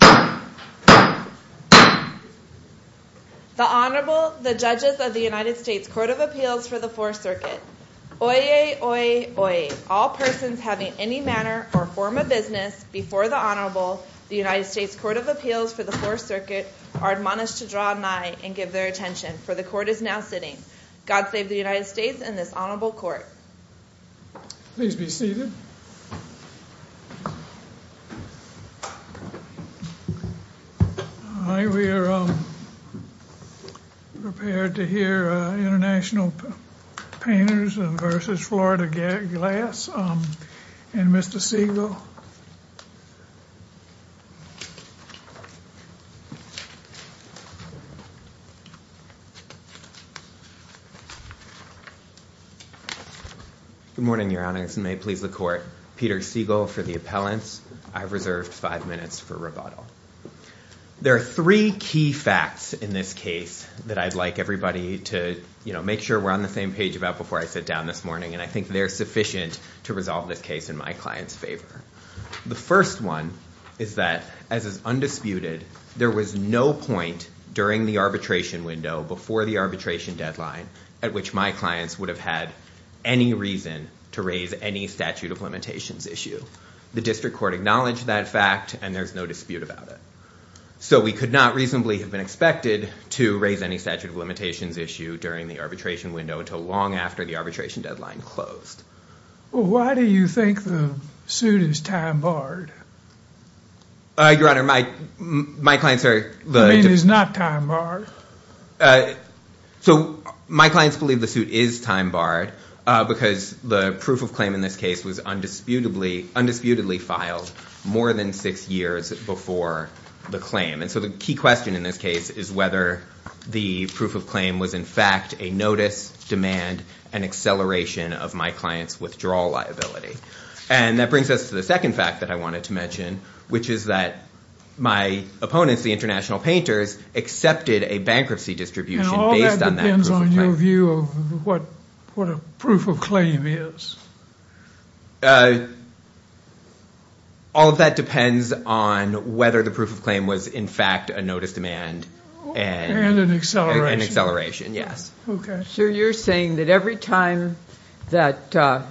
The Honorable, the Judges of the United States Court of Appeals for the Fourth Circuit. Oyez, oyez, oyez. All persons having any manner or form of business before the Honorable, the United States Court of Appeals for the Fourth Circuit, are admonished to draw nigh and give their attention, for the Court is now sitting. God save the United States and this Honorable Court. Please be seated. We are prepared to hear International Painters v. Florida Glass and Mr. Segal. Good morning, Your Honors, and may it please the Court. Peter Segal for the appellants. I've reserved five minutes for rebuttal. There are three key facts in this case that I'd like everybody to, you know, make sure we're on the same page about before I sit down this morning, and I think they're sufficient to resolve this case in my client's favor. The first one is that, as is undisputed, there was no point during the arbitration window, before the arbitration deadline, at which my clients would have had any reason to raise any statute of limitations issue. The district court acknowledged that fact, and there's no dispute about it. So we could not reasonably have been expected to raise any statute of limitations issue during the arbitration window until long after the arbitration deadline closed. Well, why do you think the suit is time barred? Your Honor, my clients are... You mean it's not time barred? So my clients believe the suit is time barred because the proof of claim in this case was undisputedly filed more than six years before the claim. And so the key question in this case is whether the proof of claim was in fact a notice, demand, and acceleration of my client's withdrawal liability. And that brings us to the second fact that I wanted to mention, which is that my opponents, the international painters, accepted a bankruptcy distribution based on that proof of claim. And all that depends on your view of what a proof of claim is. All of that depends on whether the proof of claim was in fact a notice, demand, and... And an acceleration. An acceleration, yes. Okay. So you're saying that every time that an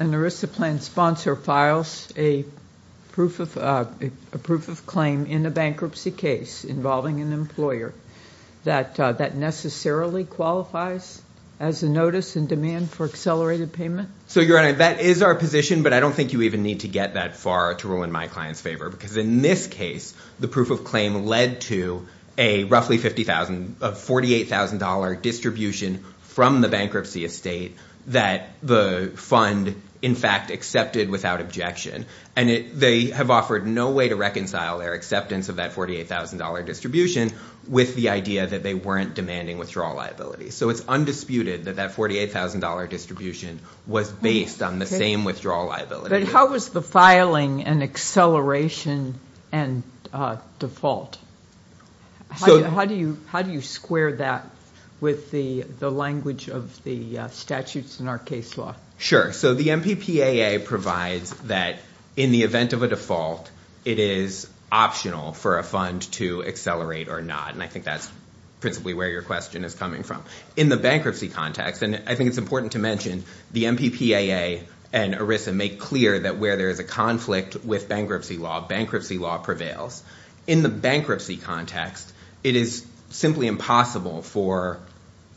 ERISA plan sponsor files a proof of claim in a bankruptcy case involving an employer, that that necessarily qualifies as a notice in demand for accelerated payment? So, Your Honor, that is our position, but I don't think you even need to get that far to ruin my client's favor because in this case the proof of claim led to a roughly $48,000 distribution from the bankruptcy estate that the fund in fact accepted without objection. And they have offered no way to reconcile their acceptance of that $48,000 distribution with the idea that they weren't demanding withdrawal liability. So it's undisputed that that $48,000 distribution was based on the same withdrawal liability. But how was the filing an acceleration and default? How do you square that with the language of the statutes in our case law? Sure. So the MPPAA provides that in the event of a default, it is optional for a fund to accelerate or not, and I think that's principally where your question is coming from. In the bankruptcy context, and I think it's important to mention, the MPPAA and ERISA make clear that where there is a conflict with bankruptcy law, bankruptcy law prevails. In the bankruptcy context, it is simply impossible for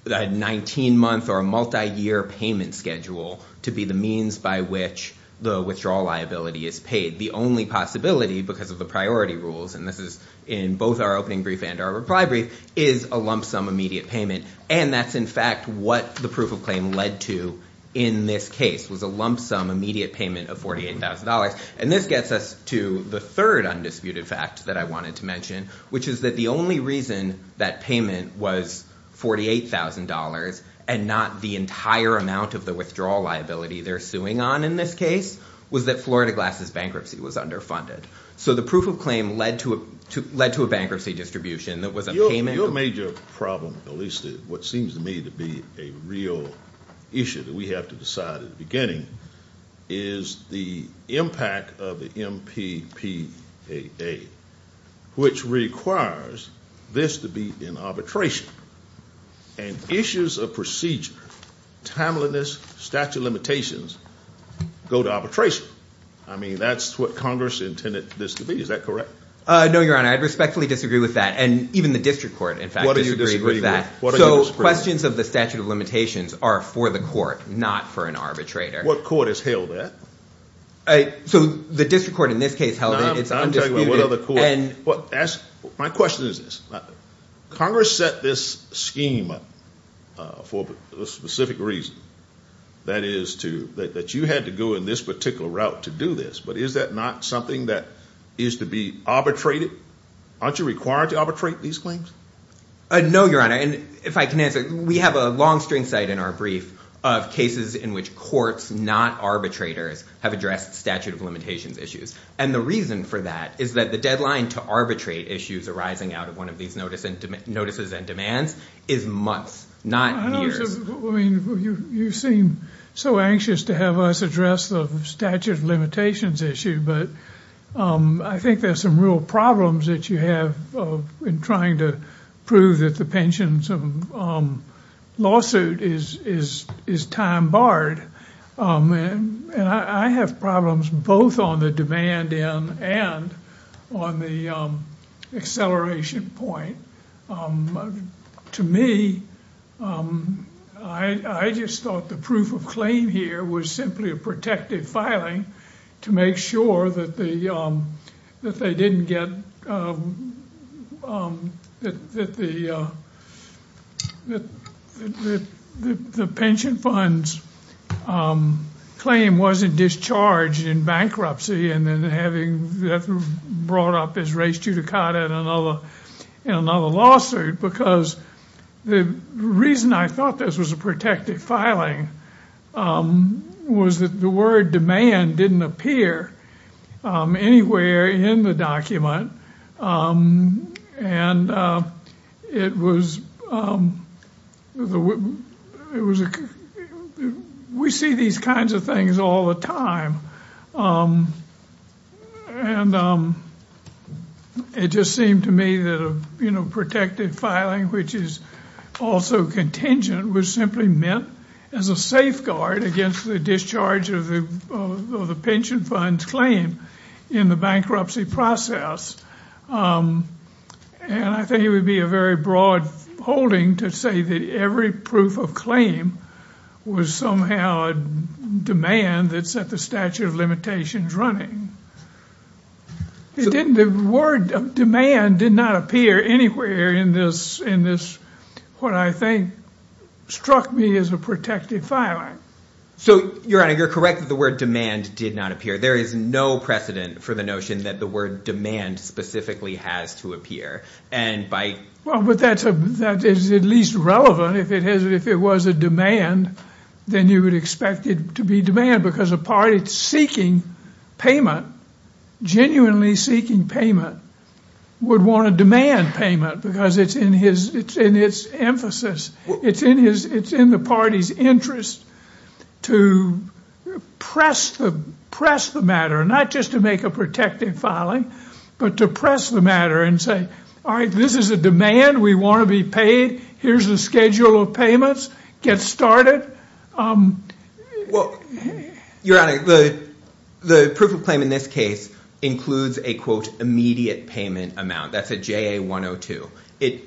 a 19-month or a multi-year payment schedule to be the means by which the withdrawal liability is paid. The only possibility, because of the priority rules, and this is in both our opening brief and our reply brief, is a lump sum immediate payment, and that's in fact what the proof of claim led to in this case, was a lump sum immediate payment of $48,000. And this gets us to the third undisputed fact that I wanted to mention, which is that the only reason that payment was $48,000 and not the entire amount of the withdrawal liability they're suing on in this case was that Florida Glass's bankruptcy was underfunded. So the proof of claim led to a bankruptcy distribution that was a payment. Your major problem, at least what seems to me to be a real issue that we have to decide at the beginning, is the impact of the MPPAA, which requires this to be in arbitration. And issues of procedure, timeliness, statute of limitations, go to arbitration. I mean, that's what Congress intended this to be. Is that correct? No, Your Honor. I respectfully disagree with that. And even the district court, in fact, disagrees with that. So questions of the statute of limitations are for the court, not for an arbitrator. What court has held that? So the district court in this case held it. It's undisputed. My question is this. Congress set this scheme up for a specific reason, that is, that you had to go in this particular route to do this. But is that not something that is to be arbitrated? Aren't you required to arbitrate these claims? No, Your Honor. And if I can answer, we have a long string cite in our brief of cases in which courts, not arbitrators, have addressed statute of limitations issues. And the reason for that is that the deadline to arbitrate issues arising out of one of these notices and demands is months, not years. I know. I mean, you seem so anxious to have us address the statute of limitations issue. But I think there's some real problems that you have in trying to prove that the pension lawsuit is time barred. And I have problems both on the demand end and on the acceleration point. To me, I just thought the proof of claim here was simply a protective filing to make sure that the pension funds claim wasn't discharged in bankruptcy and then having that brought up as res judicata in another lawsuit. Because the reason I thought this was a protective filing was that the word demand didn't appear anywhere in the document. And it was, it was, we see these kinds of things all the time. And it just seemed to me that, you know, protective filing, which is also contingent, was simply meant as a safeguard against the discharge of the pension funds claim in the bankruptcy process. And I think it would be a very broad holding to say that every proof of claim was somehow a demand that set the statute of limitations running. It didn't, the word demand did not appear anywhere in this, in this, what I think struck me as a protective filing. So, Your Honor, you're correct that the word demand did not appear. There is no precedent for the notion that the word demand specifically has to appear. And by... Well, but that's a, that is at least relevant if it has, if it was a demand, then you would expect it to be demand. Because a party seeking payment, genuinely seeking payment, would want to demand payment because it's in his, it's in its emphasis. It's in his, it's in the party's interest to press the, press the matter, not just to make a protective filing, but to press the matter and say, all right, this is a demand. We want to be paid. Here's the schedule of payments. Get started. Well, Your Honor, the, the proof of claim in this case includes a, quote, immediate payment amount. That's a JA-102. It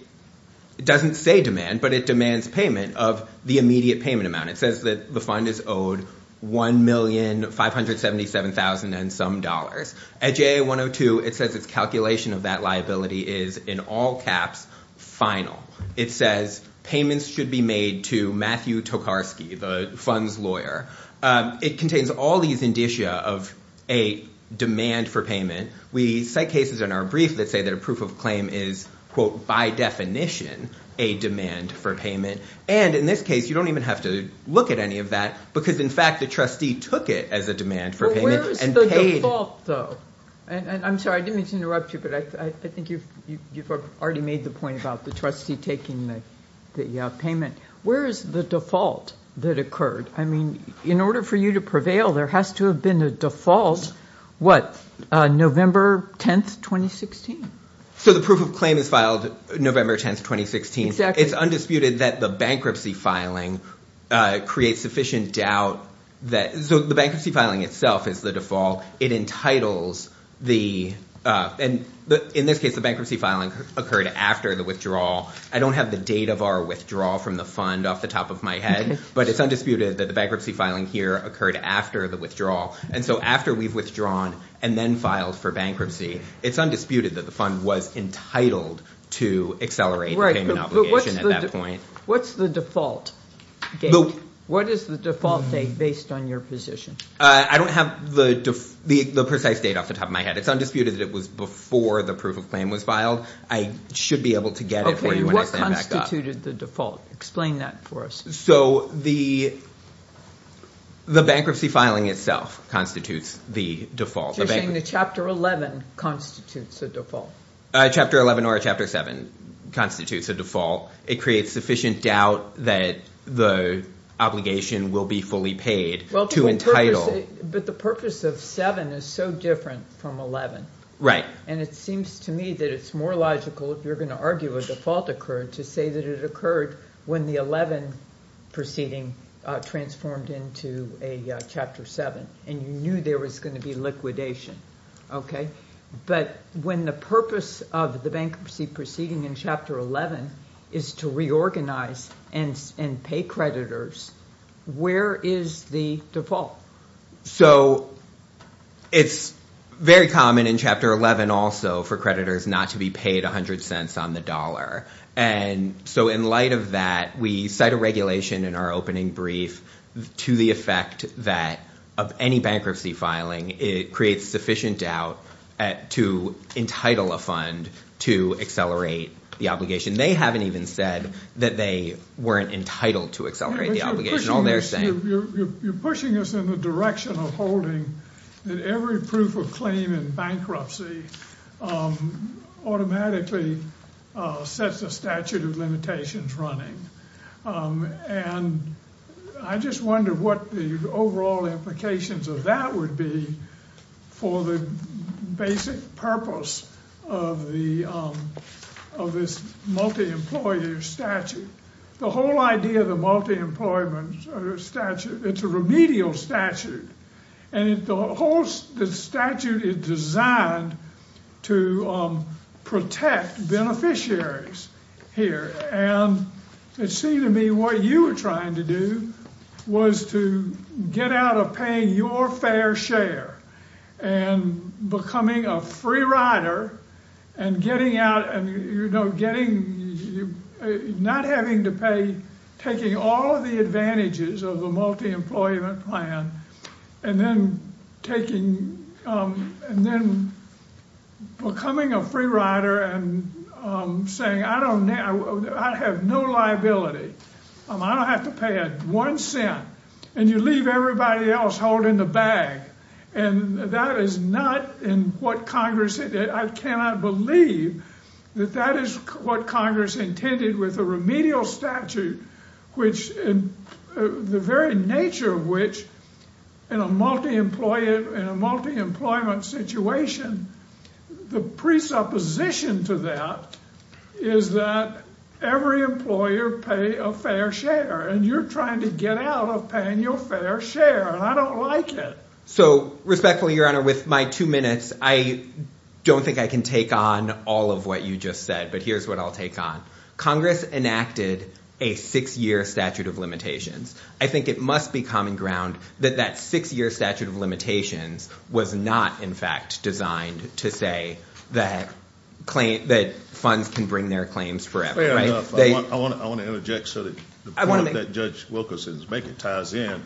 doesn't say demand, but it demands payment of the immediate payment amount. It says that the fund is owed $1,577,000 and some dollars. At JA-102, it says its calculation of that liability is, in all caps, FINAL. It says payments should be made to Matthew Tokarski, the fund's lawyer. It contains all these indicia of a demand for payment. We cite cases in our brief that say that a proof of claim is, quote, by definition, a demand for payment. And in this case, you don't even have to look at any of that because, in fact, the trustee took it as a demand for payment and paid. Well, where is the default, though? And I'm sorry, I didn't mean to interrupt you, but I think you've already made the point about the trustee taking the payment. Where is the default that occurred? I mean, in order for you to prevail, there has to have been a default, what, November 10th, 2016? So the proof of claim is filed November 10th, 2016. It's undisputed that the bankruptcy filing creates sufficient doubt. So the bankruptcy filing itself is the default. It entitles the – in this case, the bankruptcy filing occurred after the withdrawal. I don't have the date of our withdrawal from the fund off the top of my head. But it's undisputed that the bankruptcy filing here occurred after the withdrawal. And so after we've withdrawn and then filed for bankruptcy, it's undisputed that the fund was entitled to accelerate the payment obligation at that point. Right, but what's the default? What is the default date based on your position? I don't have the precise date off the top of my head. It's undisputed that it was before the proof of claim was filed. I should be able to get it for you when I stand back up. Okay, what constituted the default? Explain that for us. So the bankruptcy filing itself constitutes the default. You're saying the Chapter 11 constitutes a default. Chapter 11 or Chapter 7 constitutes a default. It creates sufficient doubt that the obligation will be fully paid to entitle – But the purpose of 7 is so different from 11. Right. And it seems to me that it's more logical, if you're going to argue a default occurred, to say that it occurred when the 11 proceeding transformed into a Chapter 7. And you knew there was going to be liquidation. But when the purpose of the bankruptcy proceeding in Chapter 11 is to reorganize and pay creditors, where is the default? So it's very common in Chapter 11 also for creditors not to be paid 100 cents on the dollar. And so in light of that, we cite a regulation in our opening brief to the effect that of any bankruptcy filing, it creates sufficient doubt to entitle a fund to accelerate the obligation. They haven't even said that they weren't entitled to accelerate the obligation. You're pushing us in the direction of holding that every proof of claim in bankruptcy automatically sets a statute of limitations running. And I just wonder what the overall implications of that would be for the basic purpose of this multi-employer statute. The whole idea of the multi-employer statute, it's a remedial statute. And the whole statute is designed to protect beneficiaries here. And it seemed to me what you were trying to do was to get out of paying your fair share and becoming a free rider and getting out and, you know, getting, not having to pay, taking all the advantages of the multi-employment plan. And then taking, and then becoming a free rider and saying I don't, I have no liability. I don't have to pay a one cent. And you leave everybody else holding the bag. And that is not in what Congress, I cannot believe that that is what Congress intended with a remedial statute, which the very nature of which in a multi-employer, in a multi-employment situation, the presupposition to that is that every employer pay a fair share. And you're trying to get out of paying your fair share. And I don't like it. So respectfully, Your Honor, with my two minutes, I don't think I can take on all of what you just said. But here's what I'll take on. Congress enacted a six-year statute of limitations. I think it must be common ground that that six-year statute of limitations was not, in fact, designed to say that funds can bring their claims forever. Fair enough. I want to interject so that the point that Judge Wilkerson is making ties in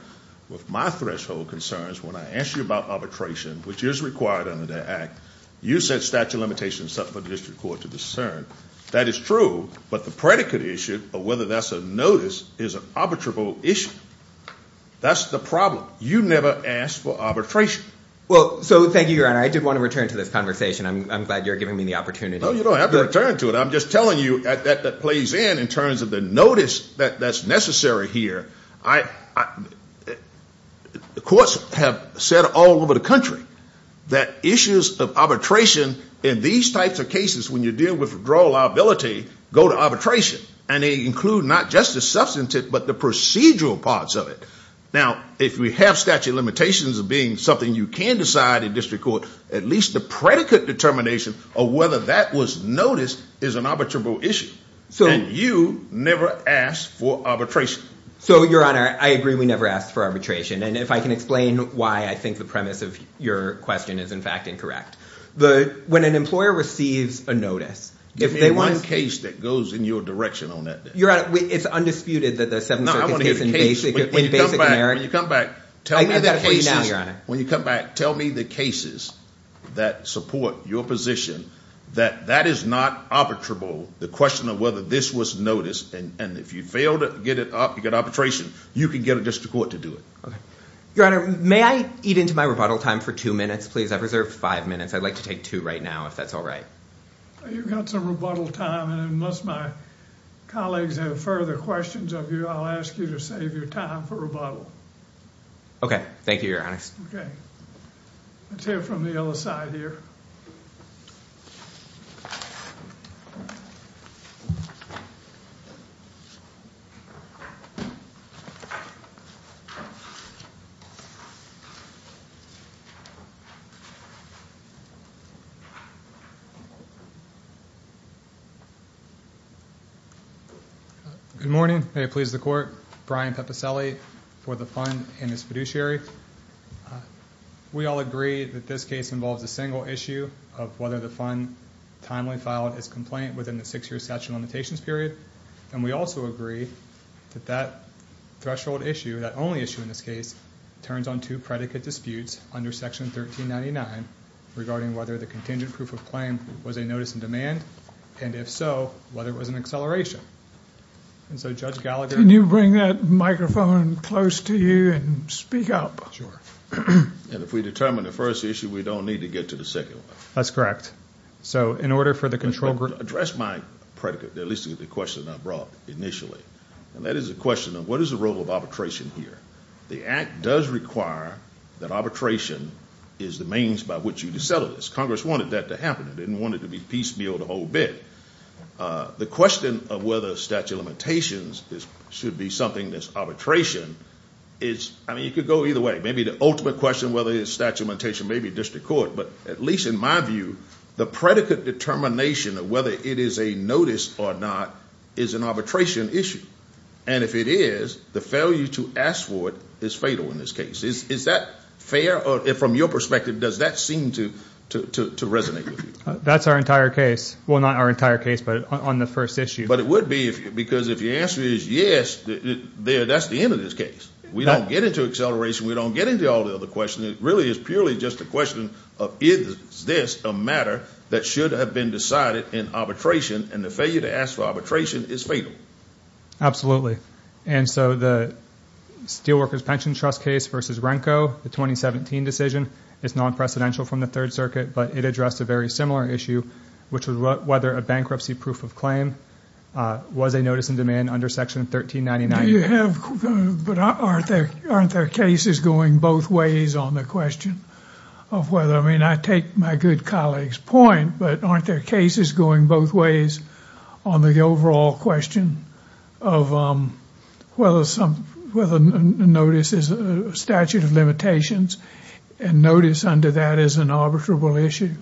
with my threshold concerns. When I asked you about arbitration, which is required under the act, you said statute of limitations is something for the district court to discern. That is true. But the predicate issue of whether that's a notice is an arbitrable issue. That's the problem. You never asked for arbitration. Well, so thank you, Your Honor. I did want to return to this conversation. I'm glad you're giving me the opportunity. No, you don't have to return to it. But I'm just telling you that that plays in in terms of the notice that's necessary here. The courts have said all over the country that issues of arbitration in these types of cases, when you deal with withdrawal liability, go to arbitration. And they include not just the substantive but the procedural parts of it. Now, if we have statute of limitations as being something you can decide in district court, at least the predicate determination of whether that was noticed is an arbitrable issue. And you never asked for arbitration. So, Your Honor, I agree we never asked for arbitration. And if I can explain why, I think the premise of your question is, in fact, incorrect. When an employer receives a notice, if they want to— Give me one case that goes in your direction on that. Your Honor, it's undisputed that the Seventh Circuit case— When you come back, tell me the cases that support your position that that is not arbitrable, the question of whether this was noticed. And if you fail to get arbitration, you can get a district court to do it. Your Honor, may I eat into my rebuttal time for two minutes, please? I've reserved five minutes. I'd like to take two right now, if that's all right. You've got some rebuttal time, and unless my colleagues have further questions of you, I'll ask you to save your time for rebuttal. Okay. Thank you, Your Honor. Okay. Let's hear from the other side here. Good morning. May it please the Court. Brian Pepicelli for the Fund and its fiduciary. We all agree that this case involves a single issue of whether the Fund timely filed its complaint within the six-year statute of limitations period, and we also agree that that threshold issue, that only issue in this case, turns on two predicate disputes under Section 1399 regarding whether the contingent proof of claim was a notice in demand, and if so, whether it was an acceleration. And so, Judge Gallagher— Can you bring that microphone close to you and speak up? And if we determine the first issue, we don't need to get to the second one. That's correct. So, in order for the control group— To address my predicate, at least the question I brought initially, and that is the question of what is the role of arbitration here. The Act does require that arbitration is the means by which you decelerate this. Congress wanted that to happen. It didn't want it to be piecemealed a whole bit. The question of whether statute of limitations should be something that's arbitration is— I mean, you could go either way. Maybe the ultimate question, whether it's statute of limitations, may be district court, but at least in my view, the predicate determination of whether it is a notice or not is an arbitration issue. And if it is, the failure to ask for it is fatal in this case. Is that fair? From your perspective, does that seem to resonate with you? That's our entire case. Well, not our entire case, but on the first issue. But it would be, because if the answer is yes, that's the end of this case. We don't get into acceleration. We don't get into all the other questions. It really is purely just a question of is this a matter that should have been decided in arbitration, and the failure to ask for arbitration is fatal. And so the Steelworkers Pension Trust case versus Renko, the 2017 decision, is non-precedential from the Third Circuit, but it addressed a very similar issue, which was whether a bankruptcy proof of claim was a notice in demand under Section 1399. But aren't there cases going both ways on the question of whether, I mean, I take my good colleague's point, but aren't there cases going both ways on the overall question of whether a notice is a statute of limitations and notice under that is an arbitrable issue?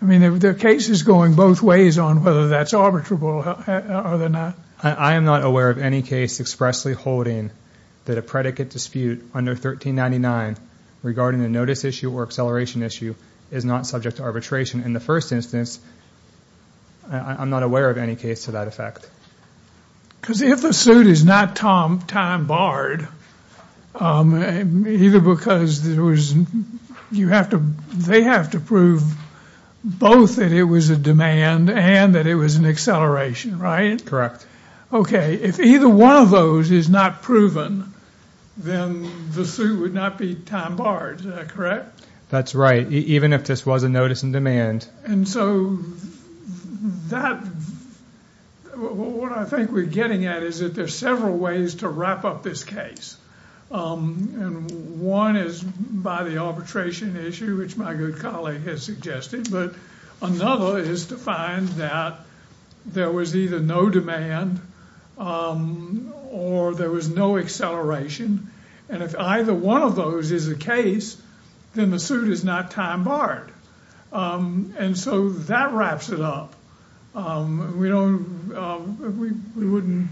I mean, there are cases going both ways on whether that's arbitrable, are there not? I am not aware of any case expressly holding that a predicate dispute under 1399 regarding a notice issue or acceleration issue is not subject to arbitration. In the first instance, I'm not aware of any case to that effect. Because if the suit is not time barred, either because there was, you have to, they have to prove both that it was a demand and that it was an acceleration, right? Correct. Okay, if either one of those is not proven, then the suit would not be time barred, is that correct? That's right, even if this was a notice in demand. And so that, what I think we're getting at is that there are several ways to wrap up this case. And one is by the arbitration issue, which my good colleague has suggested, but another is to find that there was either no demand or there was no acceleration. And if either one of those is the case, then the suit is not time barred. And so that wraps it up. We don't, we wouldn't,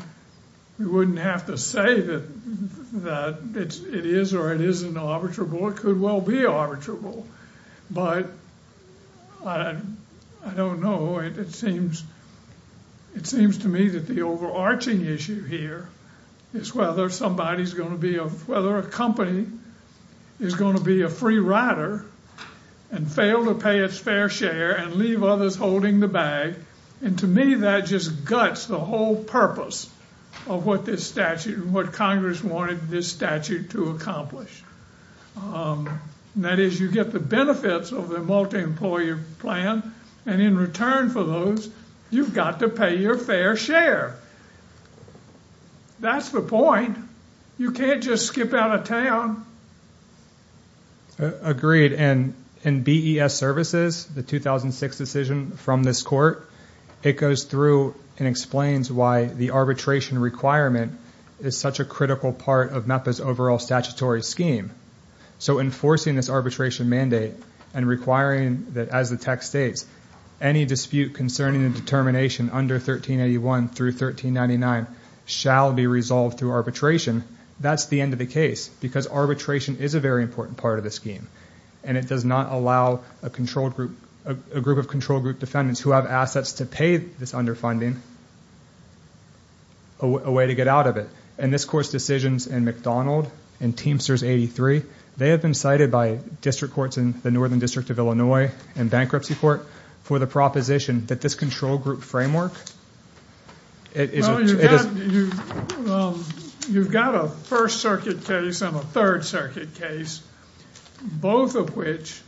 we wouldn't have to say that it is or it isn't arbitrable. It could well be arbitrable, but I don't know. It seems to me that the overarching issue here is whether somebody's going to be, whether a company is going to be a free rider and fail to pay its fair share and leave others holding the bag. And to me, that just guts the whole purpose of what this statute, what Congress wanted this statute to accomplish. That is, you get the benefits of the multi-employer plan, and in return for those, you've got to pay your fair share. That's the point. You can't just skip out of town. Agreed, and BES Services, the 2006 decision from this court, it goes through and explains why the arbitration requirement is such a critical part of MEPA's overall statutory scheme. So enforcing this arbitration mandate and requiring that, as the text states, any dispute concerning the determination under 1381 through 1399 shall be resolved through arbitration, that's the end of the case because arbitration is a very important part of the scheme, and it does not allow a group of control group defendants who have assets to pay this underfunding a way to get out of it. And this court's decisions in McDonald and Teamsters 83, they have been cited by district courts in the Northern District of Illinois and Bankruptcy Court for the proposition that this control group framework is- Well, you've got a First Circuit case and a Third Circuit case, both of which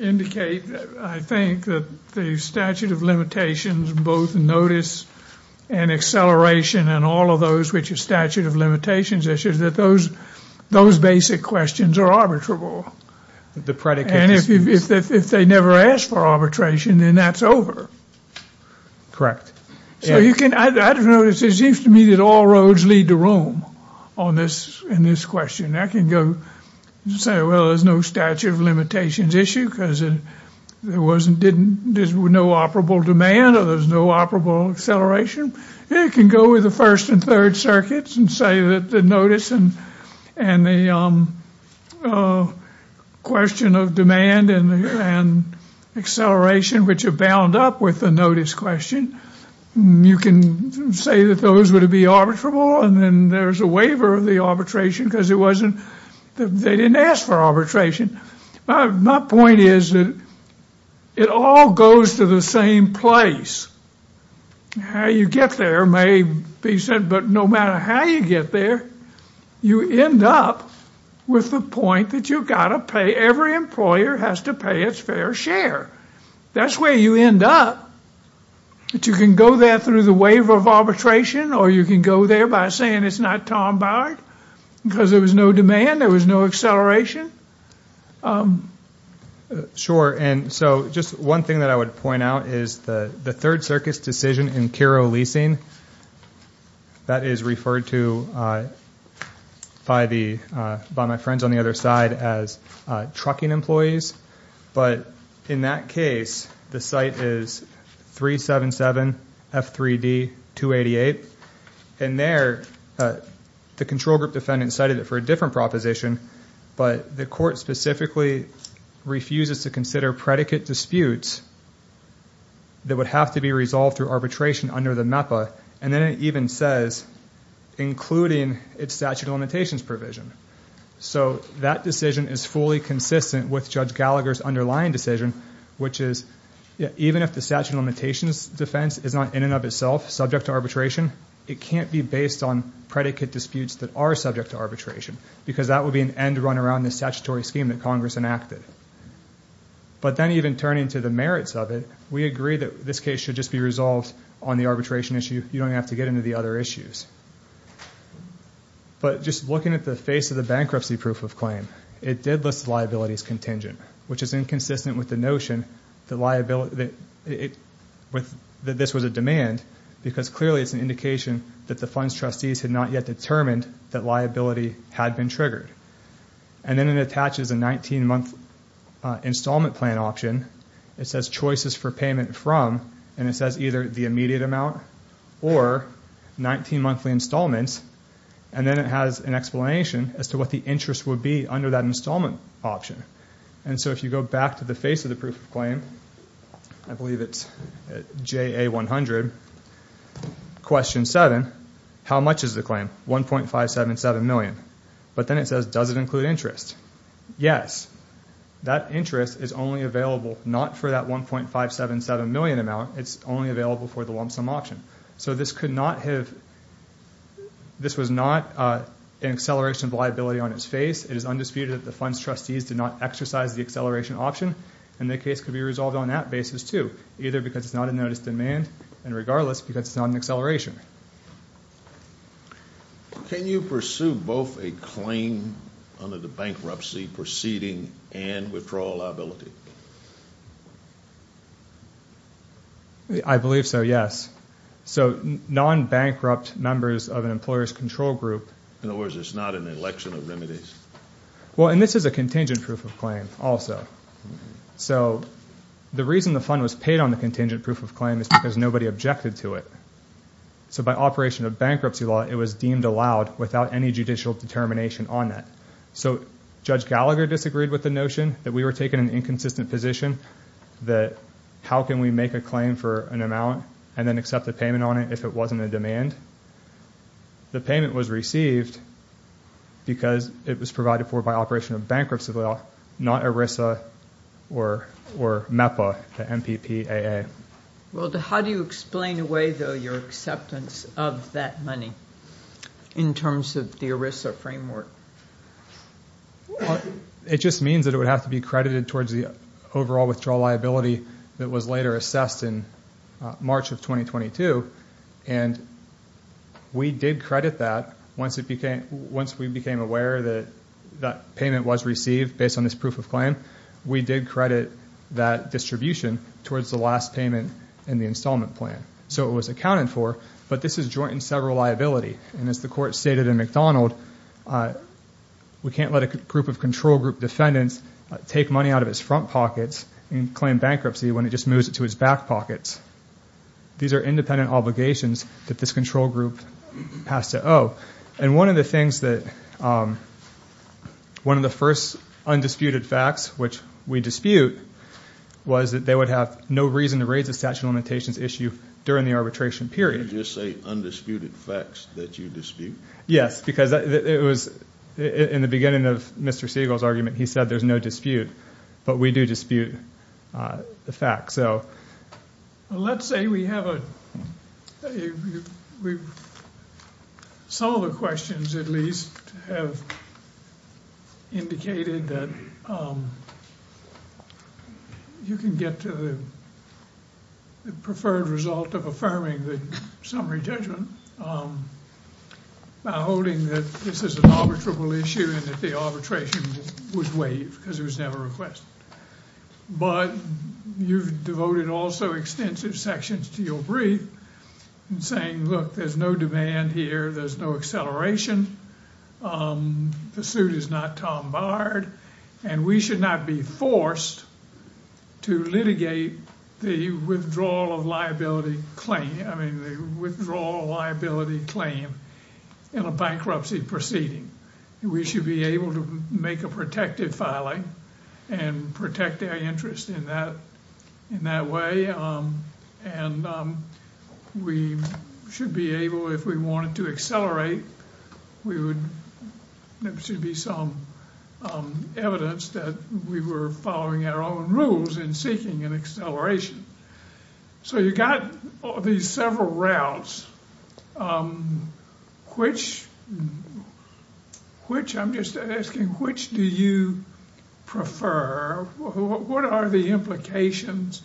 indicate, I think, that the statute of limitations, both notice and acceleration, and all of those which are statute of limitations issues, that those basic questions are arbitrable. The predicate- And if they never ask for arbitration, then that's over. Correct. So you can, I don't know, it seems to me that all roads lead to Rome on this, in this question. I can go and say, well, there's no statute of limitations issue because there wasn't, there's no operable demand or there's no operable acceleration. You can go with the First and Third Circuits and say that the notice and the question of demand and acceleration, which are bound up with the notice question, you can say that those would be arbitrable. And then there's a waiver of the arbitration because it wasn't, they didn't ask for arbitration. My point is that it all goes to the same place. How you get there may be said, but no matter how you get there, you end up with the point that you've got to pay, every employer has to pay its fair share. That's where you end up. But you can go there through the waiver of arbitration, or you can go there by saying it's not Tom Bauer because there was no demand. There was no acceleration. Sure. And so just one thing that I would point out is the Third Circus decision in Kiro Leasing. That is referred to by the, by my friends on the other side as trucking employees. But in that case, the site is 377F3D288. And there, the control group defendant cited it for a different proposition, but the court specifically refuses to consider predicate disputes that would have to be resolved through arbitration under the MEPA. And then it even says, including its statute of limitations provision. So that decision is fully consistent with Judge Gallagher's underlying decision, which is even if the statute of limitations defense is not in and of itself subject to arbitration, it can't be based on predicate disputes that are subject to arbitration because that would be an end run around the statutory scheme that Congress enacted. But then even turning to the merits of it, we agree that this case should just be resolved on the arbitration issue. You don't have to get into the other issues. But just looking at the face of the bankruptcy proof of claim, it did list liabilities contingent, which is inconsistent with the notion that liability, that this was a demand because clearly it's an indication that the funds trustees had not yet determined that liability had been triggered. And then it attaches a 19-month installment plan option. It says choices for payment from, and it says either the immediate amount or 19 monthly installments, and then it has an explanation as to what the interest would be under that installment option. And so if you go back to the face of the proof of claim, I believe it's JA100, question 7, how much is the claim? $1.577 million. But then it says, does it include interest? Yes. That interest is only available not for that $1.577 million amount. It's only available for the lump sum option. So this could not have, this was not an acceleration of liability on its face. It is undisputed that the funds trustees did not exercise the acceleration option, and the case could be resolved on that basis too, either because it's not a notice of demand and regardless because it's not an acceleration. Can you pursue both a claim under the bankruptcy proceeding and withdrawal liability? I believe so, yes. So non-bankrupt members of an employer's control group. In other words, it's not an election of remedies. Well, and this is a contingent proof of claim also. So the reason the fund was paid on the contingent proof of claim is because nobody objected to it. So by operation of bankruptcy law, it was deemed allowed without any judicial determination on that. So Judge Gallagher disagreed with the notion that we were taking an inconsistent position that how can we make a claim for an amount and then accept the payment on it if it wasn't a demand. The payment was received because it was provided for by operation of bankruptcy law, not ERISA or MEPA, the M-P-P-A-A. Well, how do you explain away, though, your acceptance of that money in terms of the ERISA framework? It just means that it would have to be credited towards the overall withdrawal liability that was later assessed in March of 2022, and we did credit that once we became aware that payment was received based on this proof of claim. We did credit that distribution towards the last payment in the installment plan. So it was accounted for, but this has jointed several liabilities. And as the Court stated in McDonald, we can't let a group of control group defendants take money out of its front pockets and claim bankruptcy when it just moves it to its back pockets. These are independent obligations that this control group has to owe. And one of the things that one of the first undisputed facts, which we dispute, was that they would have no reason to raise the statute of limitations issue during the arbitration period. Did you just say undisputed facts that you dispute? Yes, because it was in the beginning of Mr. Siegel's argument, he said there's no dispute, but we do dispute the facts. Let's say we have a – some of the questions at least have indicated that you can get to the preferred result of affirming the summary judgment by holding that this is an arbitrable issue and that the arbitration was waived because it was never requested. But you've devoted also extensive sections to your brief in saying, look, there's no demand here, there's no acceleration, the suit is not tombarred, and we should not be forced to litigate the withdrawal of liability claim – I mean, the withdrawal of liability claim in a bankruptcy proceeding. We should be able to make a protective filing and protect their interest in that way, and we should be able, if we wanted to accelerate, there should be some evidence that we were following our own rules in seeking an acceleration. So you've got these several routes. Which – I'm just asking, which do you prefer? What are the implications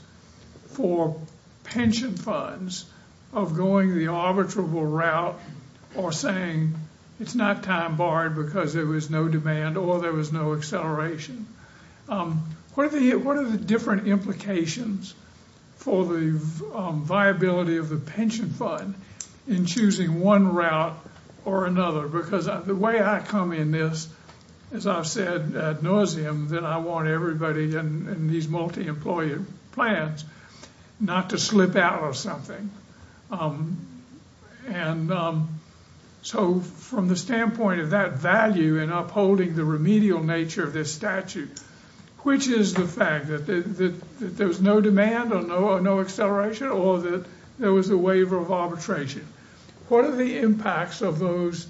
for pension funds of going the arbitrable route or saying it's not tombarred because there was no demand or there was no acceleration? What are the different implications for the viability of the pension fund in choosing one route or another? Because the way I come in this, as I've said ad nauseum, that I want everybody in these multi-employer plans not to slip out of something. And so from the standpoint of that value in upholding the remedial nature of this statute, which is the fact that there was no demand or no acceleration or that there was a waiver of arbitration, what are the impacts of those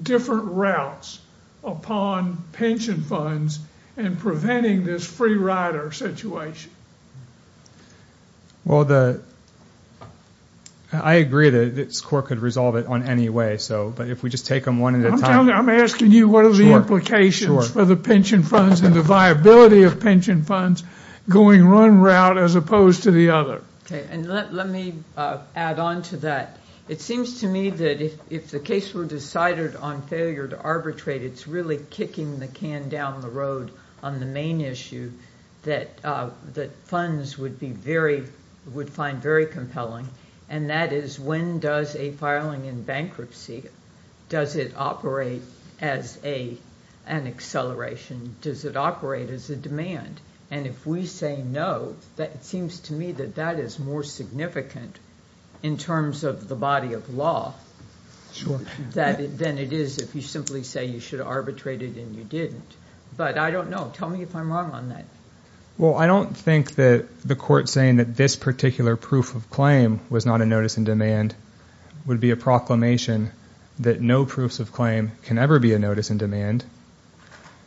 different routes upon pension funds in preventing this free rider situation? Well, I agree that this court could resolve it on any way. But if we just take them one at a time – I'm asking you what are the implications for the pension funds and the viability of pension funds going one route as opposed to the other. Okay. And let me add on to that. It seems to me that if the case were decided on failure to arbitrate, it's really kicking the can down the road on the main issue that funds would find very compelling, and that is when does a filing in bankruptcy, does it operate as an acceleration, does it operate as a demand? And if we say no, it seems to me that that is more significant in terms of the body of law than it is if you simply say you should have arbitrated and you didn't. But I don't know. Tell me if I'm wrong on that. Well, I don't think that the court saying that this particular proof of claim was not a notice in demand would be a proclamation that no proofs of claim can ever be a notice in demand.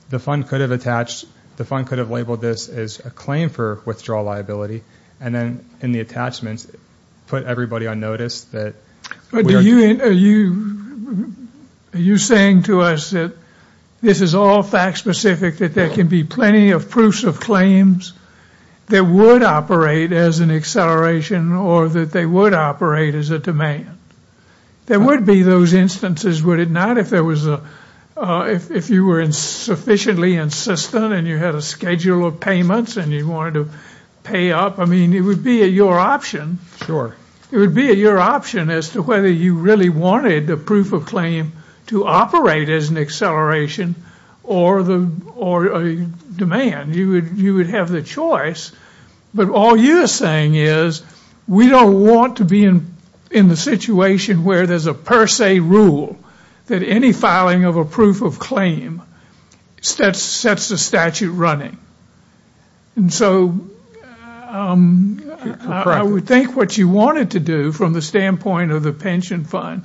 The fund could have labeled this as a claim for withdrawal liability and then in the attachments put everybody on notice that we are – Are you saying to us that this is all fact specific, that there can be plenty of proofs of claims that would operate as an acceleration or that they would operate as a demand? There would be those instances, would it not, if you were sufficiently insistent and you had a schedule of payments and you wanted to pay up? I mean, it would be your option. Sure. It would be your option as to whether you really wanted the proof of claim to operate as an acceleration or a demand. You would have the choice. But all you're saying is we don't want to be in the situation where there's a per se rule that any filing of a proof of claim sets the statute running. And so I would think what you wanted to do from the standpoint of the pension fund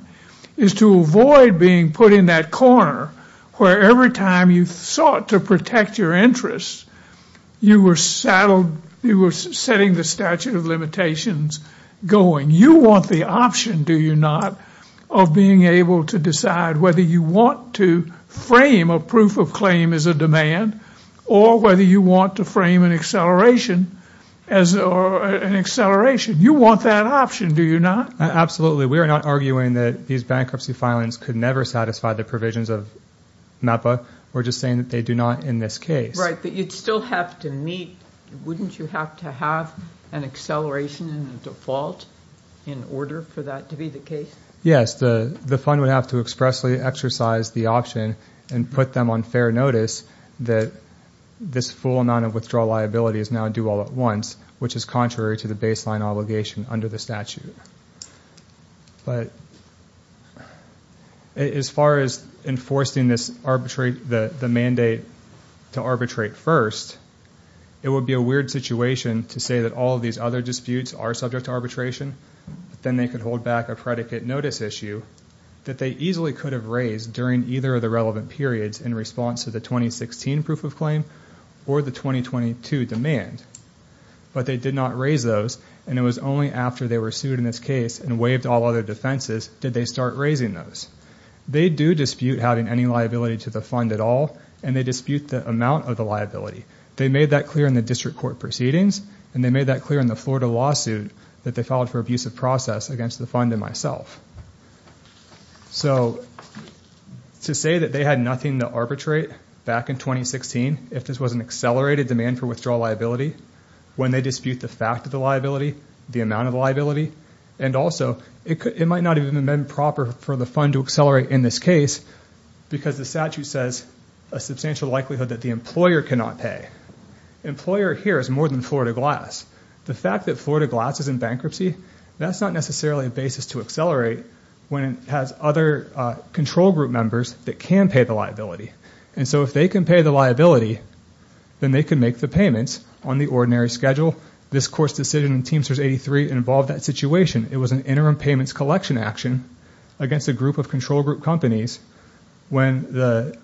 is to avoid being put in that corner where every time you sought to protect your interests, you were setting the statute of limitations going. You want the option, do you not, of being able to decide whether you want to frame a proof of claim as a demand or whether you want to frame an acceleration as an acceleration? You want that option, do you not? We are not arguing that these bankruptcy filings could never satisfy the provisions of MAPA. We're just saying that they do not in this case. Right. But you'd still have to meet. Wouldn't you have to have an acceleration default in order for that to be the case? Yes. The fund would have to expressly exercise the option and put them on fair notice that this full amount of withdrawal liability is now due all at once, which is contrary to the baseline obligation under the statute. But as far as enforcing the mandate to arbitrate first, it would be a weird situation to say that all of these other disputes are subject to arbitration, but then they could hold back a predicate notice issue that they easily could have raised during either of the relevant periods in response to the 2016 proof of claim or the 2022 demand. But they did not raise those, and it was only after they were sued in this case and waived all other defenses did they start raising those. They do dispute having any liability to the fund at all, and they dispute the amount of the liability. They made that clear in the district court proceedings, and they made that clear in the Florida lawsuit that they filed for abusive process against the fund and myself. So to say that they had nothing to arbitrate back in 2016 if this was an accelerated demand for withdrawal liability, when they dispute the fact of the liability, the amount of the liability, and also it might not have even been proper for the fund to accelerate in this case because the statute says a substantial likelihood that the employer cannot pay. Employer here is more than Florida Glass. The fact that Florida Glass is in bankruptcy, that's not necessarily a basis to accelerate when it has other control group members that can pay the liability. And so if they can pay the liability, then they can make the payments on the ordinary schedule. This court's decision in Teamsters 83 involved that situation. It was an interim payments collection action against a group of control group companies when the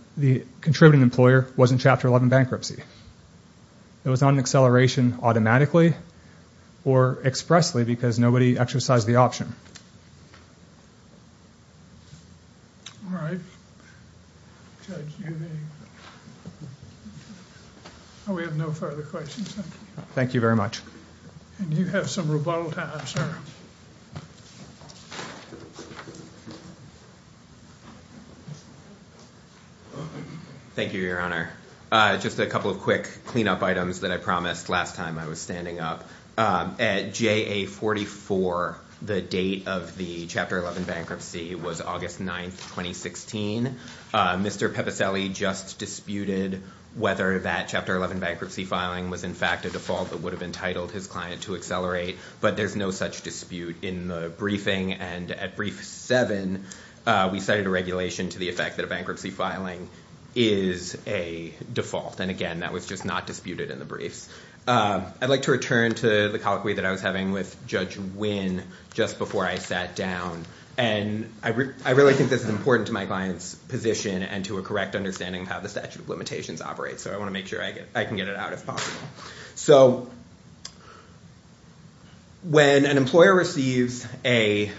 contributing employer was in Chapter 11 bankruptcy. It was not an acceleration automatically or expressly because nobody exercised the option. All right. We have no further questions. Thank you very much. And you have some rebuttal time, sir. Thank you, Your Honor. Just a couple of quick cleanup items that I promised last time I was standing up. At JA44, the date of the Chapter 11 bankruptcy was August 9, 2016. Mr. Pepicelli just disputed whether that Chapter 11 bankruptcy filing was in fact a default that would have entitled his client to accelerate, but there's no such dispute in the briefing. And at Brief 7, we cited a regulation to the effect that a bankruptcy filing is a default. And again, that was just not disputed in the briefs. I'd like to return to the colloquy that I was having with Judge Wynn just before I sat down. And I really think this is important to my client's position and to a correct understanding of how the statute of limitations operates, so I want to make sure I can get it out if possible. So when an employer receives a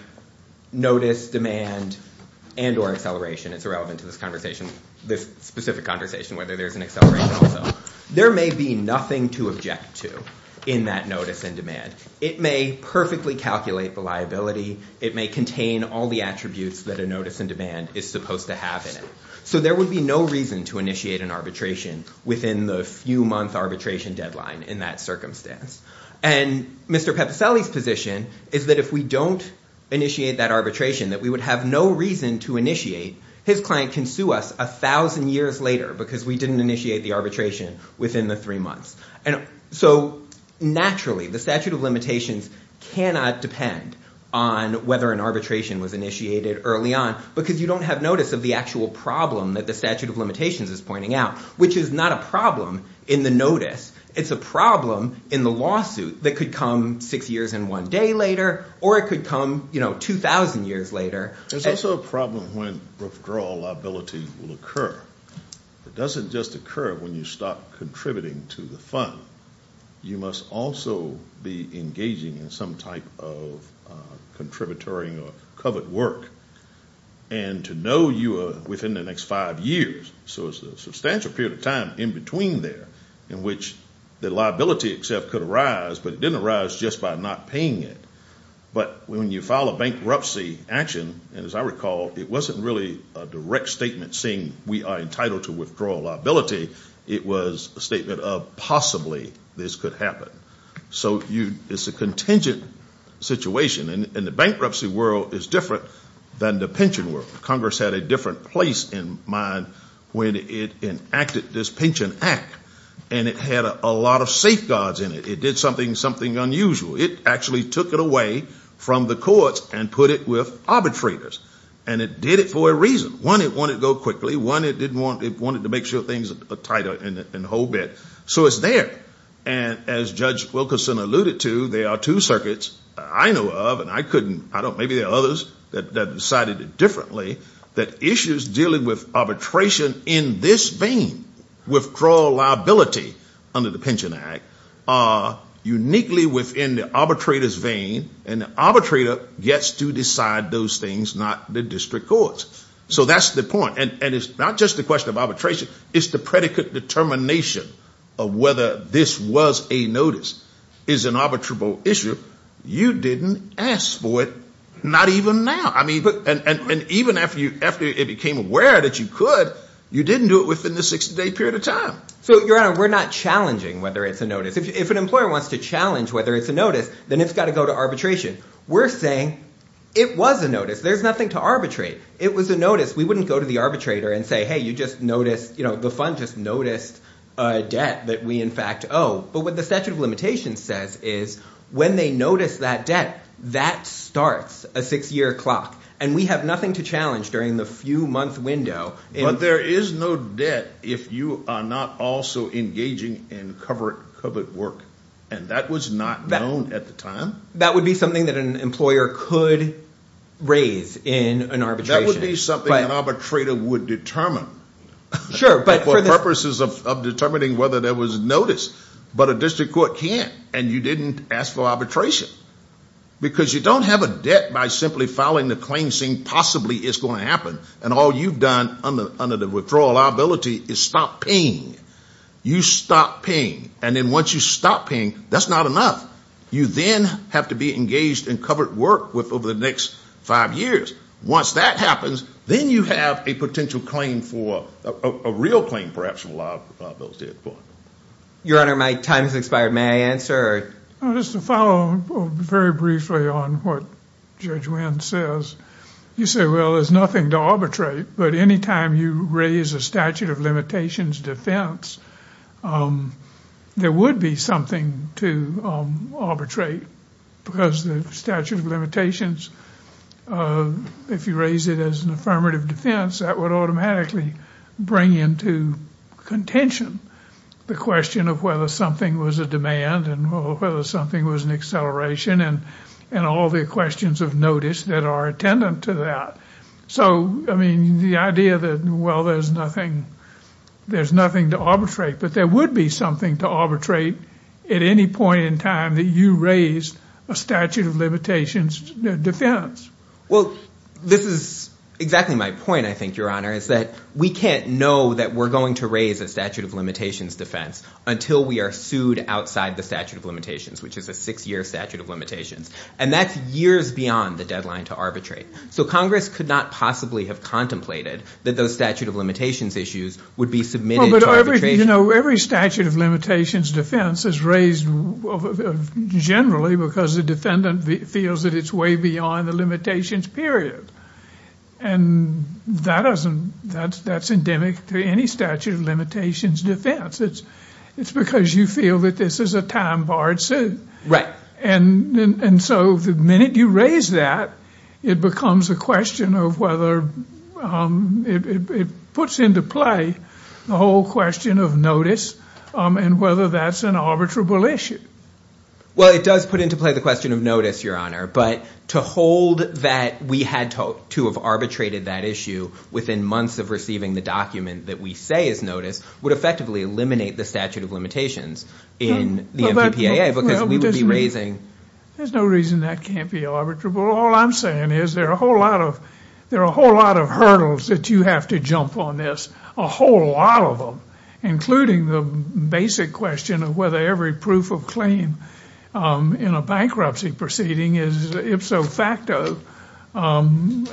notice, demand, and or acceleration, it's irrelevant to this conversation, this specific conversation, whether there's an acceleration or not, there may be nothing to object to in that notice and demand. It may perfectly calculate the liability. It may contain all the attributes that a notice and demand is supposed to have in it. So there would be no reason to initiate an arbitration within the few-month arbitration deadline in that circumstance. And Mr. Pepicelli's position is that if we don't initiate that arbitration, that we would have no reason to initiate. His client can sue us 1,000 years later because we didn't initiate the arbitration within the three months. So naturally, the statute of limitations cannot depend on whether an arbitration was initiated early on because you don't have notice of the actual problem that the statute of limitations is pointing out, which is not a problem in the notice. It's a problem in the lawsuit that could come six years and one day later or it could come 2,000 years later. There's also a problem when withdrawal liability will occur. It doesn't just occur when you stop contributing to the fund. You must also be engaging in some type of contributory or covert work. And to know you are within the next five years, so it's a substantial period of time in between there in which the liability itself could arise, but it didn't arise just by not paying it. But when you file a bankruptcy action, and as I recall, it wasn't really a direct statement saying we are entitled to withdrawal liability. It was a statement of possibly this could happen. So it's a contingent situation. And the bankruptcy world is different than the pension world. Congress had a different place in mind when it enacted this pension act, and it had a lot of safeguards in it. It did something unusual. It actually took it away from the courts and put it with arbitrators. And it did it for a reason. One, it wanted to go quickly. One, it wanted to make sure things were tighter and hold it. So it's there. And as Judge Wilkerson alluded to, there are two circuits I know of, and maybe there are others that decided it differently, that issues dealing with arbitration in this vein, withdrawal liability under the pension act, are uniquely within the arbitrator's vein, and the arbitrator gets to decide those things, not the district courts. So that's the point. And it's not just a question of arbitration. It's the predicate determination of whether this was a notice is an arbitrable issue. You didn't ask for it, not even now. And even after it became aware that you could, you didn't do it within the 60-day period of time. So, Your Honor, we're not challenging whether it's a notice. If an employer wants to challenge whether it's a notice, then it's got to go to arbitration. We're saying it was a notice. There's nothing to arbitrate. It was a notice. We wouldn't go to the arbitrator and say, hey, you just noticed, you know, the fund just noticed a debt that we in fact owe. But what the statute of limitations says is when they notice that debt, that starts a six-year clock, and we have nothing to challenge during the few-month window. But there is no debt if you are not also engaging in covert work, and that was not known at the time. That would be something that an employer could raise in an arbitration. That would be something an arbitrator would determine. Sure, but for the purposes of determining whether there was a notice. But a district court can't, and you didn't ask for arbitration. Because you don't have a debt by simply filing the claim, saying possibly it's going to happen, and all you've done under the withdrawal liability is stop paying. You stop paying. And then once you stop paying, that's not enough. You then have to be engaged in covert work over the next five years. Once that happens, then you have a potential claim for, a real claim perhaps for a liability at the court. Your Honor, my time has expired. May I answer? Just to follow very briefly on what Judge Wynn says. You say, well, there's nothing to arbitrate, but any time you raise a statute of limitations defense, there would be something to arbitrate because the statute of limitations, if you raise it as an affirmative defense, that would automatically bring into contention the question of whether something was a demand and whether something was an acceleration and all the questions of notice that are attendant to that. So, I mean, the idea that, well, there's nothing to arbitrate, but there would be something to arbitrate at any point in time that you raise a statute of limitations defense. Well, this is exactly my point, I think, Your Honor, is that we can't know that we're going to raise a statute of limitations defense until we are sued outside the statute of limitations, which is a six-year statute of limitations. And that's years beyond the deadline to arbitrate. So Congress could not possibly have contemplated that those statute of limitations issues would be submitted to arbitration. You know, every statute of limitations defense is raised generally because the defendant feels that it's way beyond the limitations period. And that's endemic to any statute of limitations defense. It's because you feel that this is a time-barred suit. Right. And so the minute you raise that, it becomes a question of whether it puts into play the whole question of notice and whether that's an arbitrable issue. Well, it does put into play the question of notice, Your Honor, but to hold that we had to have arbitrated that issue within months of receiving the document that we say is notice would effectively eliminate the statute of limitations in the MPPAA because we would be raising— There's no reason that can't be arbitrable. All I'm saying is there are a whole lot of hurdles that you have to jump on this, a whole lot of them, including the basic question of whether every proof of claim in a bankruptcy proceeding is ipso facto something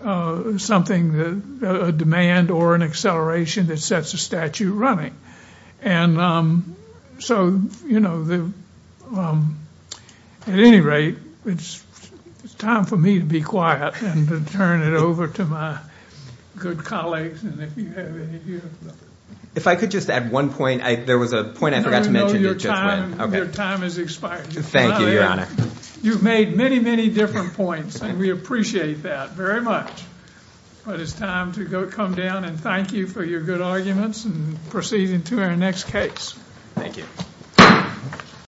that—a demand or an acceleration that sets a statute running. And so, you know, at any rate, it's time for me to be quiet and to turn it over to my good colleagues and if you have any— If I could just add one point. There was a point I forgot to mention. No, no, no. Your time has expired. Thank you, Your Honor. You've made many, many different points, and we appreciate that very much. But it's time to come down and thank you for your good arguments and proceeding to our next case. Thank you.